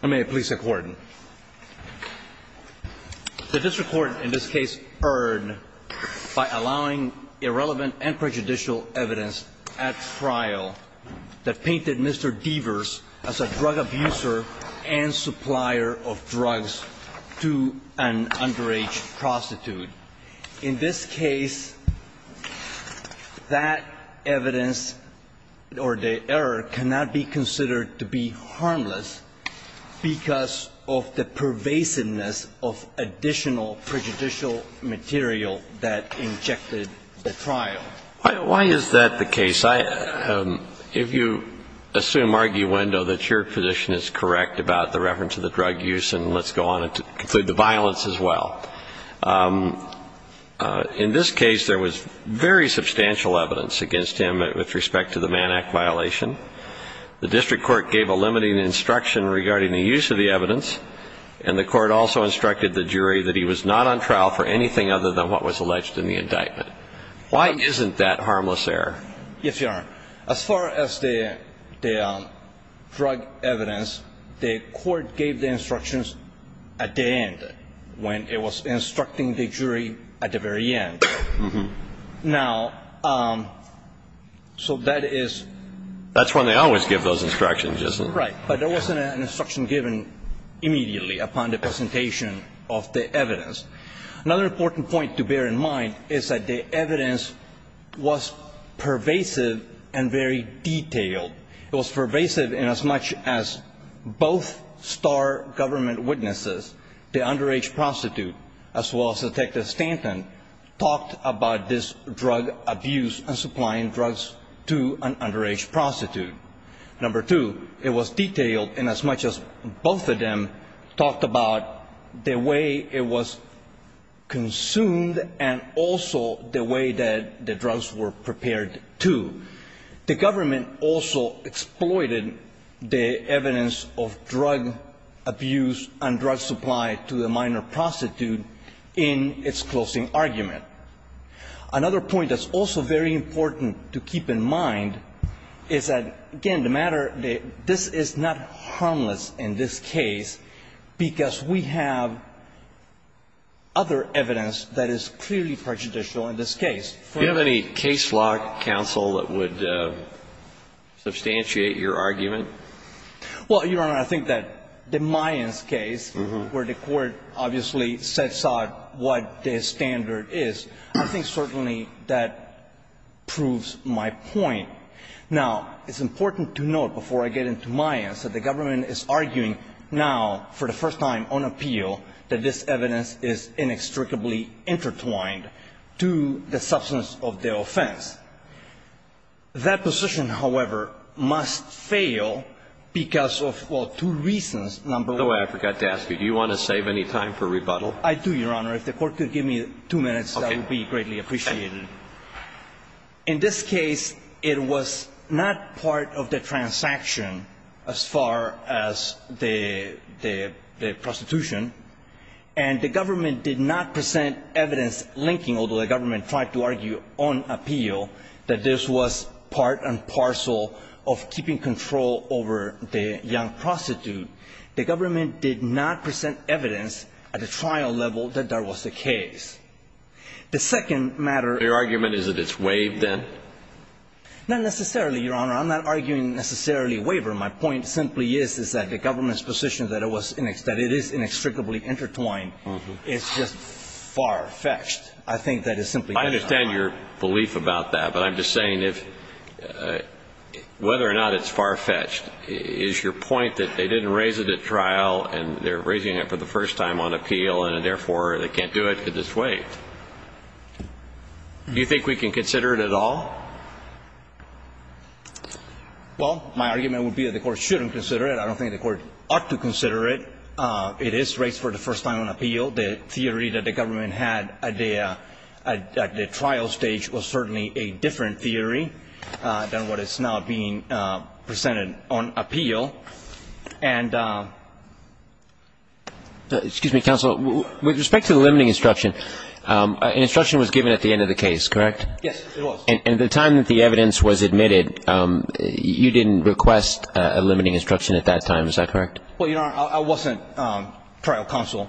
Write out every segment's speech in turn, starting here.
The District Court, in this case, erred by allowing irrelevant and prejudicial evidence at trial that painted Mr. Devers as a drug abuser and supplier of drugs to an underage prostitute. In this case, that evidence or the error cannot be considered to be harmless because of the pervasiveness of additional prejudicial material that injected the trial. Why is that the case? If you assume arguendo that your position is correct about the reference to the drug use and let's go on to the violence as well. In this case, there was very substantial evidence against him with respect to the Mann Act violation. The District Court gave a limiting instruction regarding the use of the evidence and the Court also instructed the jury that he was not on trial for anything other than what was alleged in the indictment. Why isn't that harmless error? Yes, Your Honor. As far as the drug evidence, the Court gave the instructions at the end when it was instructing the jury at the very end. Now, so that is That's when they always give those instructions, isn't it? Right. But there wasn't an instruction given immediately upon the presentation of the evidence. Another important point to bear in mind is that the evidence was pervasive and very detailed. It was pervasive in as much as both star government witnesses, the underage prostitute, as well as Detective Stanton, talked about this drug abuse and supplying drugs to an underage prostitute. Number two, it was detailed in as much as both of them talked about the way it was consumed and also the way that the drugs were prepared to. The government also exploited the evidence of drug abuse and drug supply to the minor prostitute in its closing argument. Another point that's also very important to keep in mind is that, again, the matter, this is not harmless in this case because we have other evidence that is clearly prejudicial in this case. Do you have any case log, counsel, that would substantiate your argument? Well, Your Honor, I think that the Mayans case, where the Court obviously sets out what the standard is, I think certainly that proves my point. Now, it's important to note, before I get into Mayans, that the government is arguing now, for the first time on appeal, that this evidence is inextricably intertwined to the substance of the offense. That position, however, must fail because of, well, two reasons. Number one of which I forgot to ask you. Do you want to save any time for rebuttal? I do, Your Honor. If the Court could give me two minutes, that would be greatly appreciated. In this case, it was not part of the transaction as far as the prostitution, and the government did not present evidence linking, although the government tried to argue on appeal, that this was part and parcel of keeping control over the young prostitute. The government did not present evidence at the trial of the young prostitute. And I think that the government is arguing, on a general level, that there was a case. The second matter of argument is that it's waived, then? Not necessarily, Your Honor. I'm not arguing necessarily waiver. My point simply is that the government's position that it is inextricably intertwined is just far-fetched. I think that it's simply not. I understand your belief about that, but I'm just saying whether or not it's far-fetched is your point that they didn't raise it at trial, and they're raising it for the first time on appeal, and therefore, they can't do it because it's waived. Do you think we can consider it at all? Well, my argument would be that the Court shouldn't consider it. I don't think the Court ought to consider it. It is raised for the first time on appeal. The theory that the government had at the trial stage was certainly a different theory than what is now being presented on appeal. And the ---- Excuse me, counsel. With respect to the limiting instruction, an instruction was given at the end of the case, correct? Yes, it was. And at the time that the evidence was admitted, you didn't request a limiting instruction at that time, is that correct? Well, Your Honor, I wasn't trial counsel.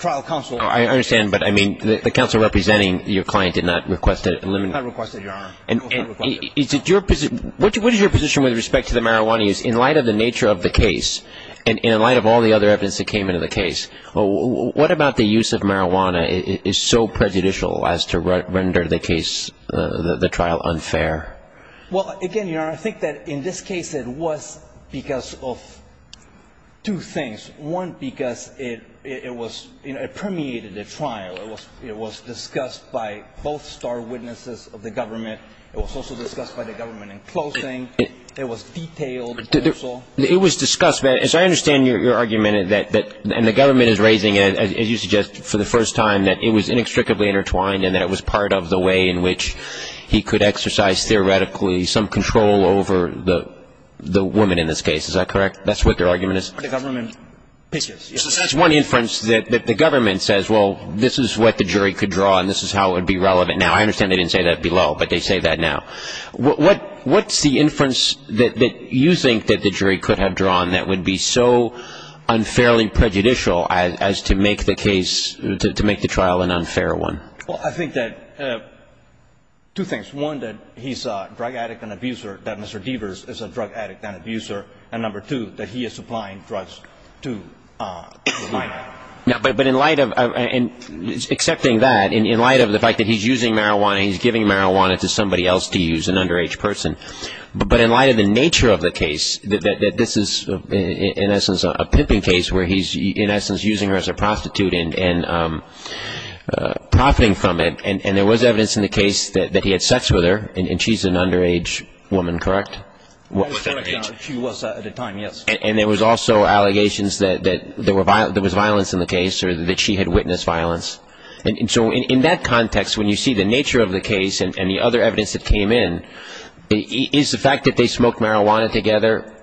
Trial counsel ---- I understand, but I mean, the counsel representing your client did not request a ---- Did not request it, Your Honor. And what is your position with respect to the marijuana use in light of the nature of the case and in light of all the other evidence that came into the case? What about the use of marijuana is so prejudicial as to render the case, the trial, unfair? Well, again, Your Honor, I think that in this case it was because of two things. One, because it was ---- it permeated the trial. It was discussed by both star witnesses of the government. It was also discussed by the government in closing. It was detailed also. It was discussed. As I understand your argument, and the government is raising it, as you suggest, for the first time, that it was inextricably intertwined and that it was part of the way in which he could exercise theoretically some control over the woman in this case. Is that correct? That's what your argument is? The government ---- So that's one inference that the government says, well, this is what the jury could draw and this is how it would be relevant. Now, I understand they didn't say that below, but they say that now. What's the inference that you think that the jury could have drawn that would be so unfairly prejudicial as to make the case so unfairly to make the trial an unfair one? Well, I think that two things. One, that he's a drug addict and abuser, that Mr. Deavers is a drug addict and abuser. And number two, that he is supplying drugs to the minor. Now, but in light of ---- and accepting that, in light of the fact that he's using marijuana, he's giving marijuana to somebody else to use, an underage person, but in light of the nature of the case, that this is in essence a pimping case where he's in essence using her as a prostitute and profiting from it. And there was evidence in the case that he had sex with her, and she's an underage woman, correct? She was at the time, yes. And there was also allegations that there was violence in the case or that she had witnessed violence. And so in that context, when you see the nature of the case and the other evidence that came in, is the fact that they smoked marijuana together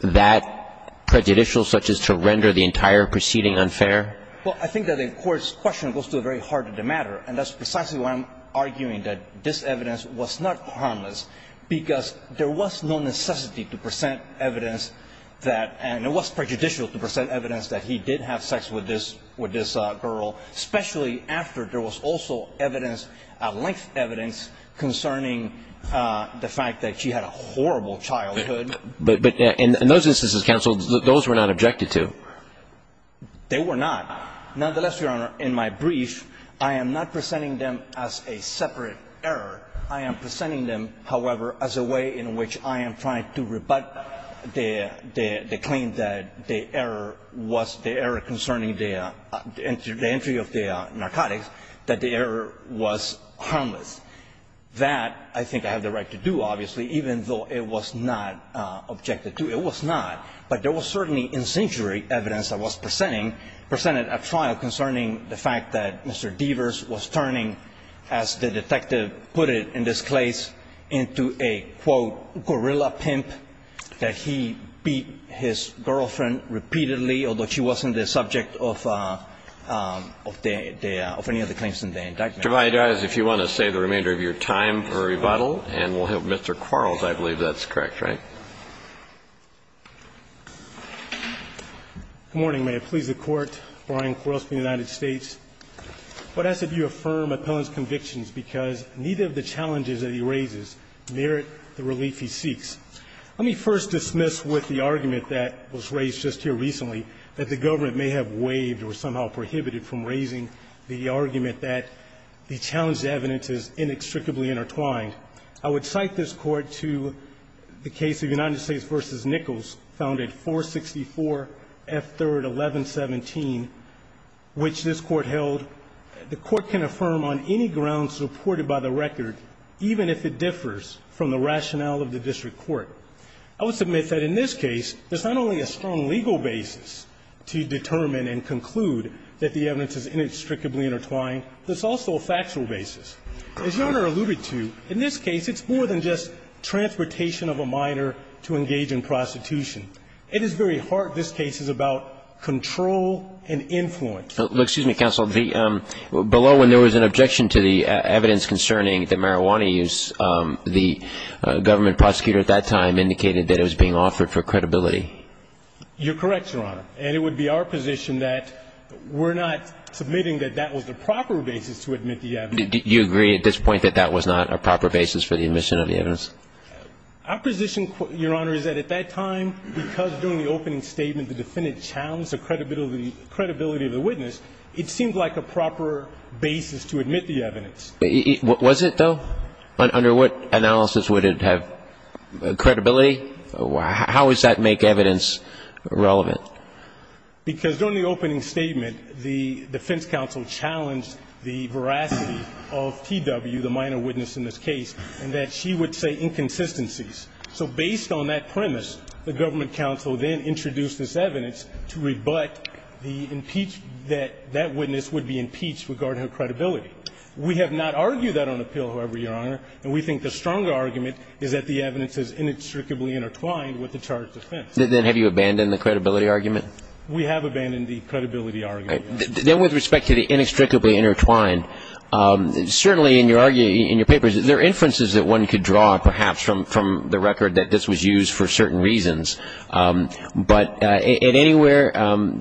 that prejudicial such as to render the entire proceeding unfair? Well, I think that the Court's question goes to the very heart of the matter. And that's precisely why I'm arguing that this evidence was not harmless, because there was no necessity to present evidence that ---- and it was prejudicial to present evidence that he did have sex with this girl, especially after there was also evidence, length evidence, concerning the fact that she had a horrible childhood. But in those instances, counsel, those were not objected to. They were not. Nonetheless, Your Honor, in my brief, I am not presenting them as a separate error. I am presenting them, however, as a way in which I am trying to rebut the claim that the error was the error concerning the entry of the narcotics, that the error was objected to. It was not. But there was certainly incendiary evidence that was presented at trial concerning the fact that Mr. Deavers was turning, as the detective put it in this case, into a, quote, gorilla pimp, that he beat his girlfriend repeatedly, although she wasn't the subject of the ---- of any of the claims in the indictment. Mr. Valadares, if you want to save the remainder of your time for rebuttal, and we'll have Mr. Quarles, I believe that's correct, right? Good morning. May it please the Court, Brian Quarles from the United States. I would ask that you affirm Appellant's convictions, because neither of the challenges that he raises merit the relief he seeks. Let me first dismiss with the argument that was raised just here recently that the government may have waived or somehow prohibited from raising the argument that the challenged evidence is inextricably intertwined. I would cite this Court to the case of United States v. Nichols, found at 464 F. 3rd, 1117, which this Court held the Court can affirm on any ground supported by the record, even if it differs from the rationale of the district court. I would submit that in this case, there's not only a strong legal basis to determine and conclude that the evidence is inextricably intertwined, there's also a factual basis. As Your Honor alluded to, in this case, it's more than just transportation of a minor to engage in prostitution. It is very hard. This case is about control and influence. Excuse me, Counsel. Below, when there was an objection to the evidence concerning the marijuana use, the government prosecutor at that time indicated that it was being offered for credibility. You're correct, Your Honor. And it would be our position that we're not submitting that that was the proper basis to admit the evidence. Do you agree at this point that that was not a proper basis for the admission of the evidence? Our position, Your Honor, is that at that time, because during the opening statement the defendant challenged the credibility of the witness, it seemed like a proper basis to admit the evidence. Was it, though? Under what analysis would it have credibility? How does that make evidence relevant? Because during the opening statement, the defense counsel challenged the veracity of T.W., the minor witness in this case, and that she would say inconsistencies. So based on that premise, the government counsel then introduced this evidence to rebut the impeach that that witness would be impeached regarding her credibility. We have not argued that on appeal, however, Your Honor, and we think the stronger argument is that the evidence is inextricably intertwined with the charge of defense. Then have you abandoned the credibility argument? We have abandoned the credibility argument. Then with respect to the inextricably intertwined, certainly in your papers, there are inferences that one could draw, perhaps, from the record that this was used for certain reasons, but at anywhere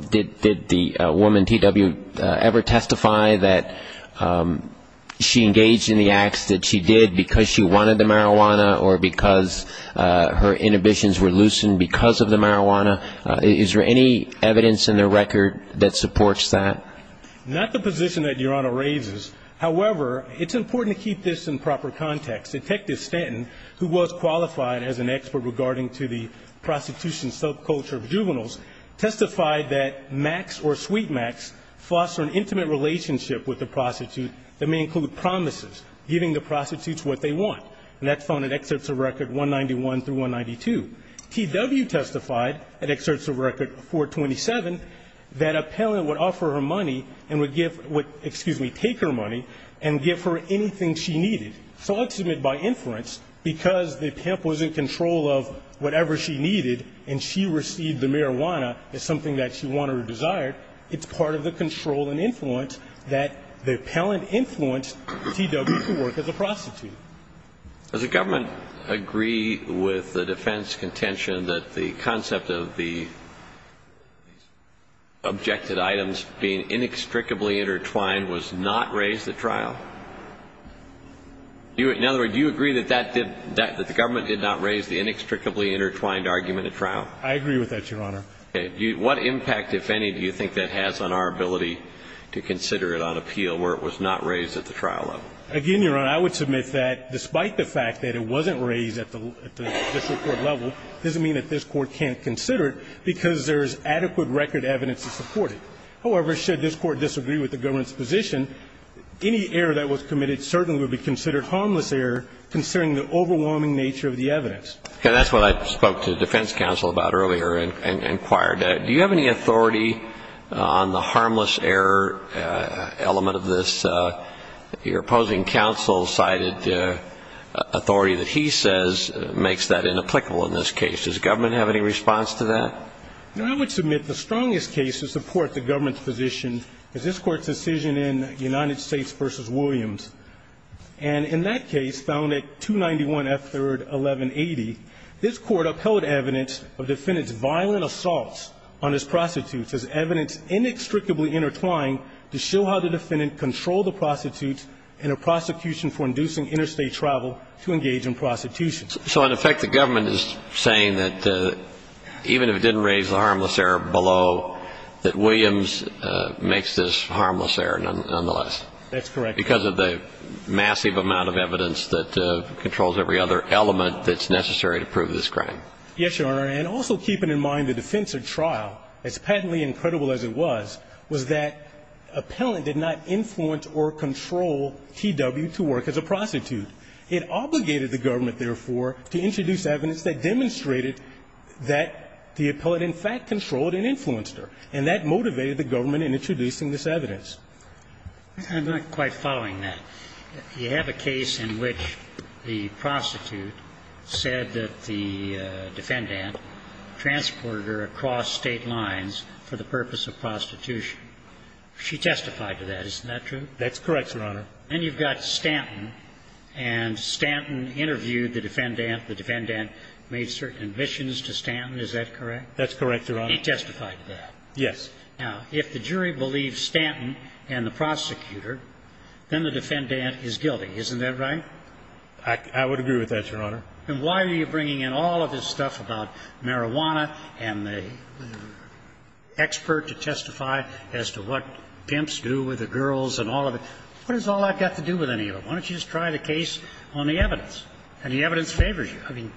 did the woman, T.W., ever testify that she engaged in the acts that she did because she wanted the marijuana or because her inhibitions were loosened because of the marijuana? Is there any evidence in the record that supports that? Not the position that Your Honor raises. However, it's important to keep this in proper context. Detective Stanton, who was qualified as an expert regarding to the prostitution subculture of juveniles, testified that max or sweet max foster an intimate relationship with the prostitute that may include promises, giving the T.W. testified, it exerts a record, 427, that a palant would offer her money and would give, excuse me, take her money and give her anything she needed. So I'll submit by inference, because the pimp was in control of whatever she needed and she received the marijuana as something that she wanted or desired, it's part of the control and influence that the palant influenced T.W. to work as a prostitute. Does the government agree with the defense contention that the concept of the objected items being inextricably intertwined was not raised at trial? In other words, do you agree that the government did not raise the inextricably intertwined argument at trial? I agree with that, Your Honor. What impact, if any, do you think that has on our ability to consider it on appeal where it was not raised at the trial level? Again, Your Honor, I would submit that despite the fact that it wasn't raised at the district court level, it doesn't mean that this Court can't consider it because there is adequate record evidence to support it. However, should this Court disagree with the government's position, any error that was committed certainly would be considered harmless error considering the overwhelming nature of the evidence. Okay. That's what I spoke to the defense counsel about earlier and inquired. Do you have any authority on the harmless error element of this? Your opposing counsel cited authority that he says makes that inapplicable in this case. Does the government have any response to that? No. I would submit the strongest case to support the government's position is this Court's decision in United States v. Williams. And in that case, found in subject 291F3-1180, this Court upheld evidence of defendant's violent assaults on his prostitutes as evidence inextricably intertwined to show how the defendant controlled the prostitutes in a prosecution for inducing interstate travel to engage in prostitution. So, in effect, the government is saying that even if it didn't raise the harmless error below, that Williams makes this harmless error nonetheless? That's correct. Because of the massive amount of evidence that controls every other element that's necessary to prove this crime. Yes, Your Honor. And also keeping in mind the defense at trial, as patently incredible as it was, was that appellant did not influence or control T.W. to work as a prostitute. It obligated the government, therefore, to introduce evidence that demonstrated that the appellant, in fact, controlled and influenced her. And that motivated the government in introducing this evidence. I'm not quite following that. You have a case in which the prostitute said that the defendant transported her across State lines for the purpose of prostitution. She testified to that. Isn't that true? That's correct, Your Honor. And you've got Stanton, and Stanton interviewed the defendant. The defendant made certain admissions to Stanton. Is that correct? That's correct, Your Honor. He testified to that. Yes. Now, if the jury believes Stanton and the prosecutor, then the defendant is guilty. Isn't that right? I would agree with that, Your Honor. And why are you bringing in all of this stuff about marijuana and the expert to testify as to what pimps do with the girls and all of it? What does all that got to do with any of it? Why don't you just try the case on the evidence? And the evidence favors you. I mean,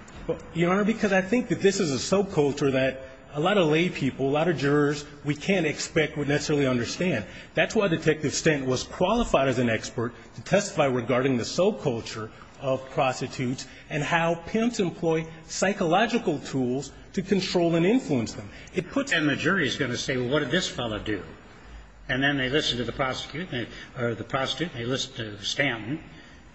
Your Honor, because I think that this is a soap culture that a lot of lay people, a lot of jurors, we can't expect would necessarily understand. That's why Detective Stanton was qualified as an expert to testify regarding the soap culture of prostitutes and how pimps employ psychological tools to control and influence them. And the jury is going to say, well, what did this fellow do? And then they listen to the prosecutor or the prostitute, and they listen to Stanton,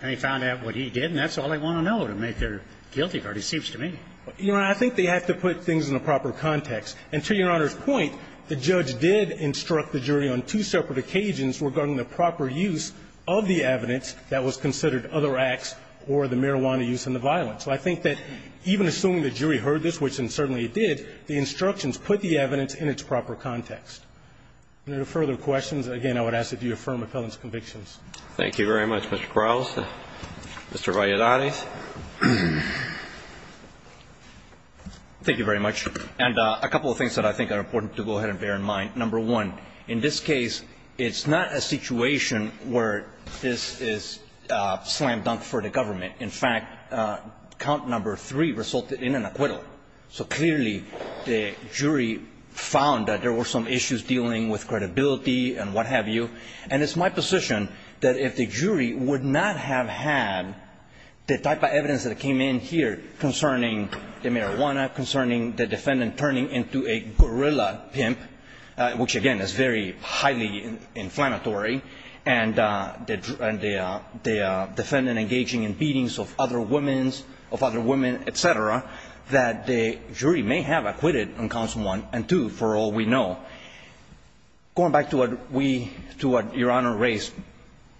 and they found out what he did, and that's all they want to know to make their guilty verdict, it seems to me. Your Honor, I think they have to put things in the proper context. And to Your Honor's point, the judge did instruct the jury on two separate occasions regarding the proper use of the evidence that was considered other acts or the marijuana use and the violence. So I think that even assuming the jury heard this, which certainly it did, the instructions put the evidence in its proper context. Any further questions? Again, I would ask that you affirm McClellan's convictions. Thank you very much, Mr. Krauss. Mr. Valladares. Thank you very much. And a couple of things that I think are important to go ahead and bear in mind. Number one, in this case, it's not a situation where this is slam dunk for the government. In fact, count number three resulted in an acquittal. So clearly, the jury found that there were some issues dealing with credibility and what have you. And it's my position that if the jury would not have had the type of evidence that came in here concerning the marijuana, concerning the defendant turning into a gorilla pimp, which, again, is very highly inflammatory, and the defendant engaging in beatings of other women, et cetera, that the jury may have acquitted on counsel one and two, for all we know. Going back to what Your Honor raised,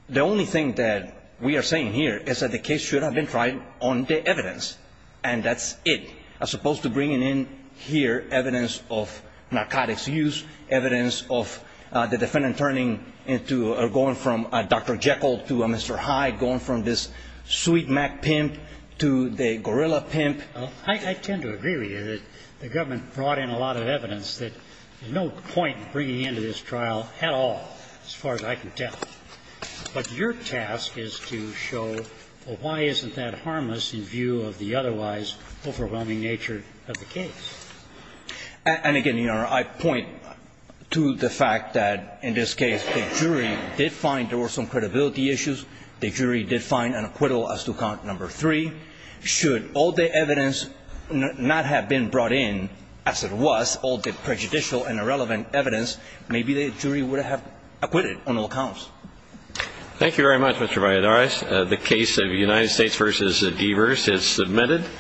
the only thing that we are saying here is that the case should have been tried on the evidence. And that's it. As opposed to bringing in here evidence of narcotics use, evidence of the defendant turning into or going from a Dr. Jekyll to a Mr. Hyde, going from this sweet Mac pimp to the gorilla pimp. I tend to agree with you that the government brought in a lot of evidence that there's no point in bringing into this trial at all, as far as I can tell. But your task is to show, well, why isn't that harmless in view of the otherwise overwhelming nature of the case? And again, Your Honor, I point to the fact that in this case the jury did find there were some credibility issues. The jury did find an acquittal as to count number three. Should all the evidence not have been brought in, as it was, all the prejudicial and irrelevant evidence, maybe the jury would have acquitted on all counts. Thank you very much, Mr. Valladares. The case of United States v. Evers is submitted.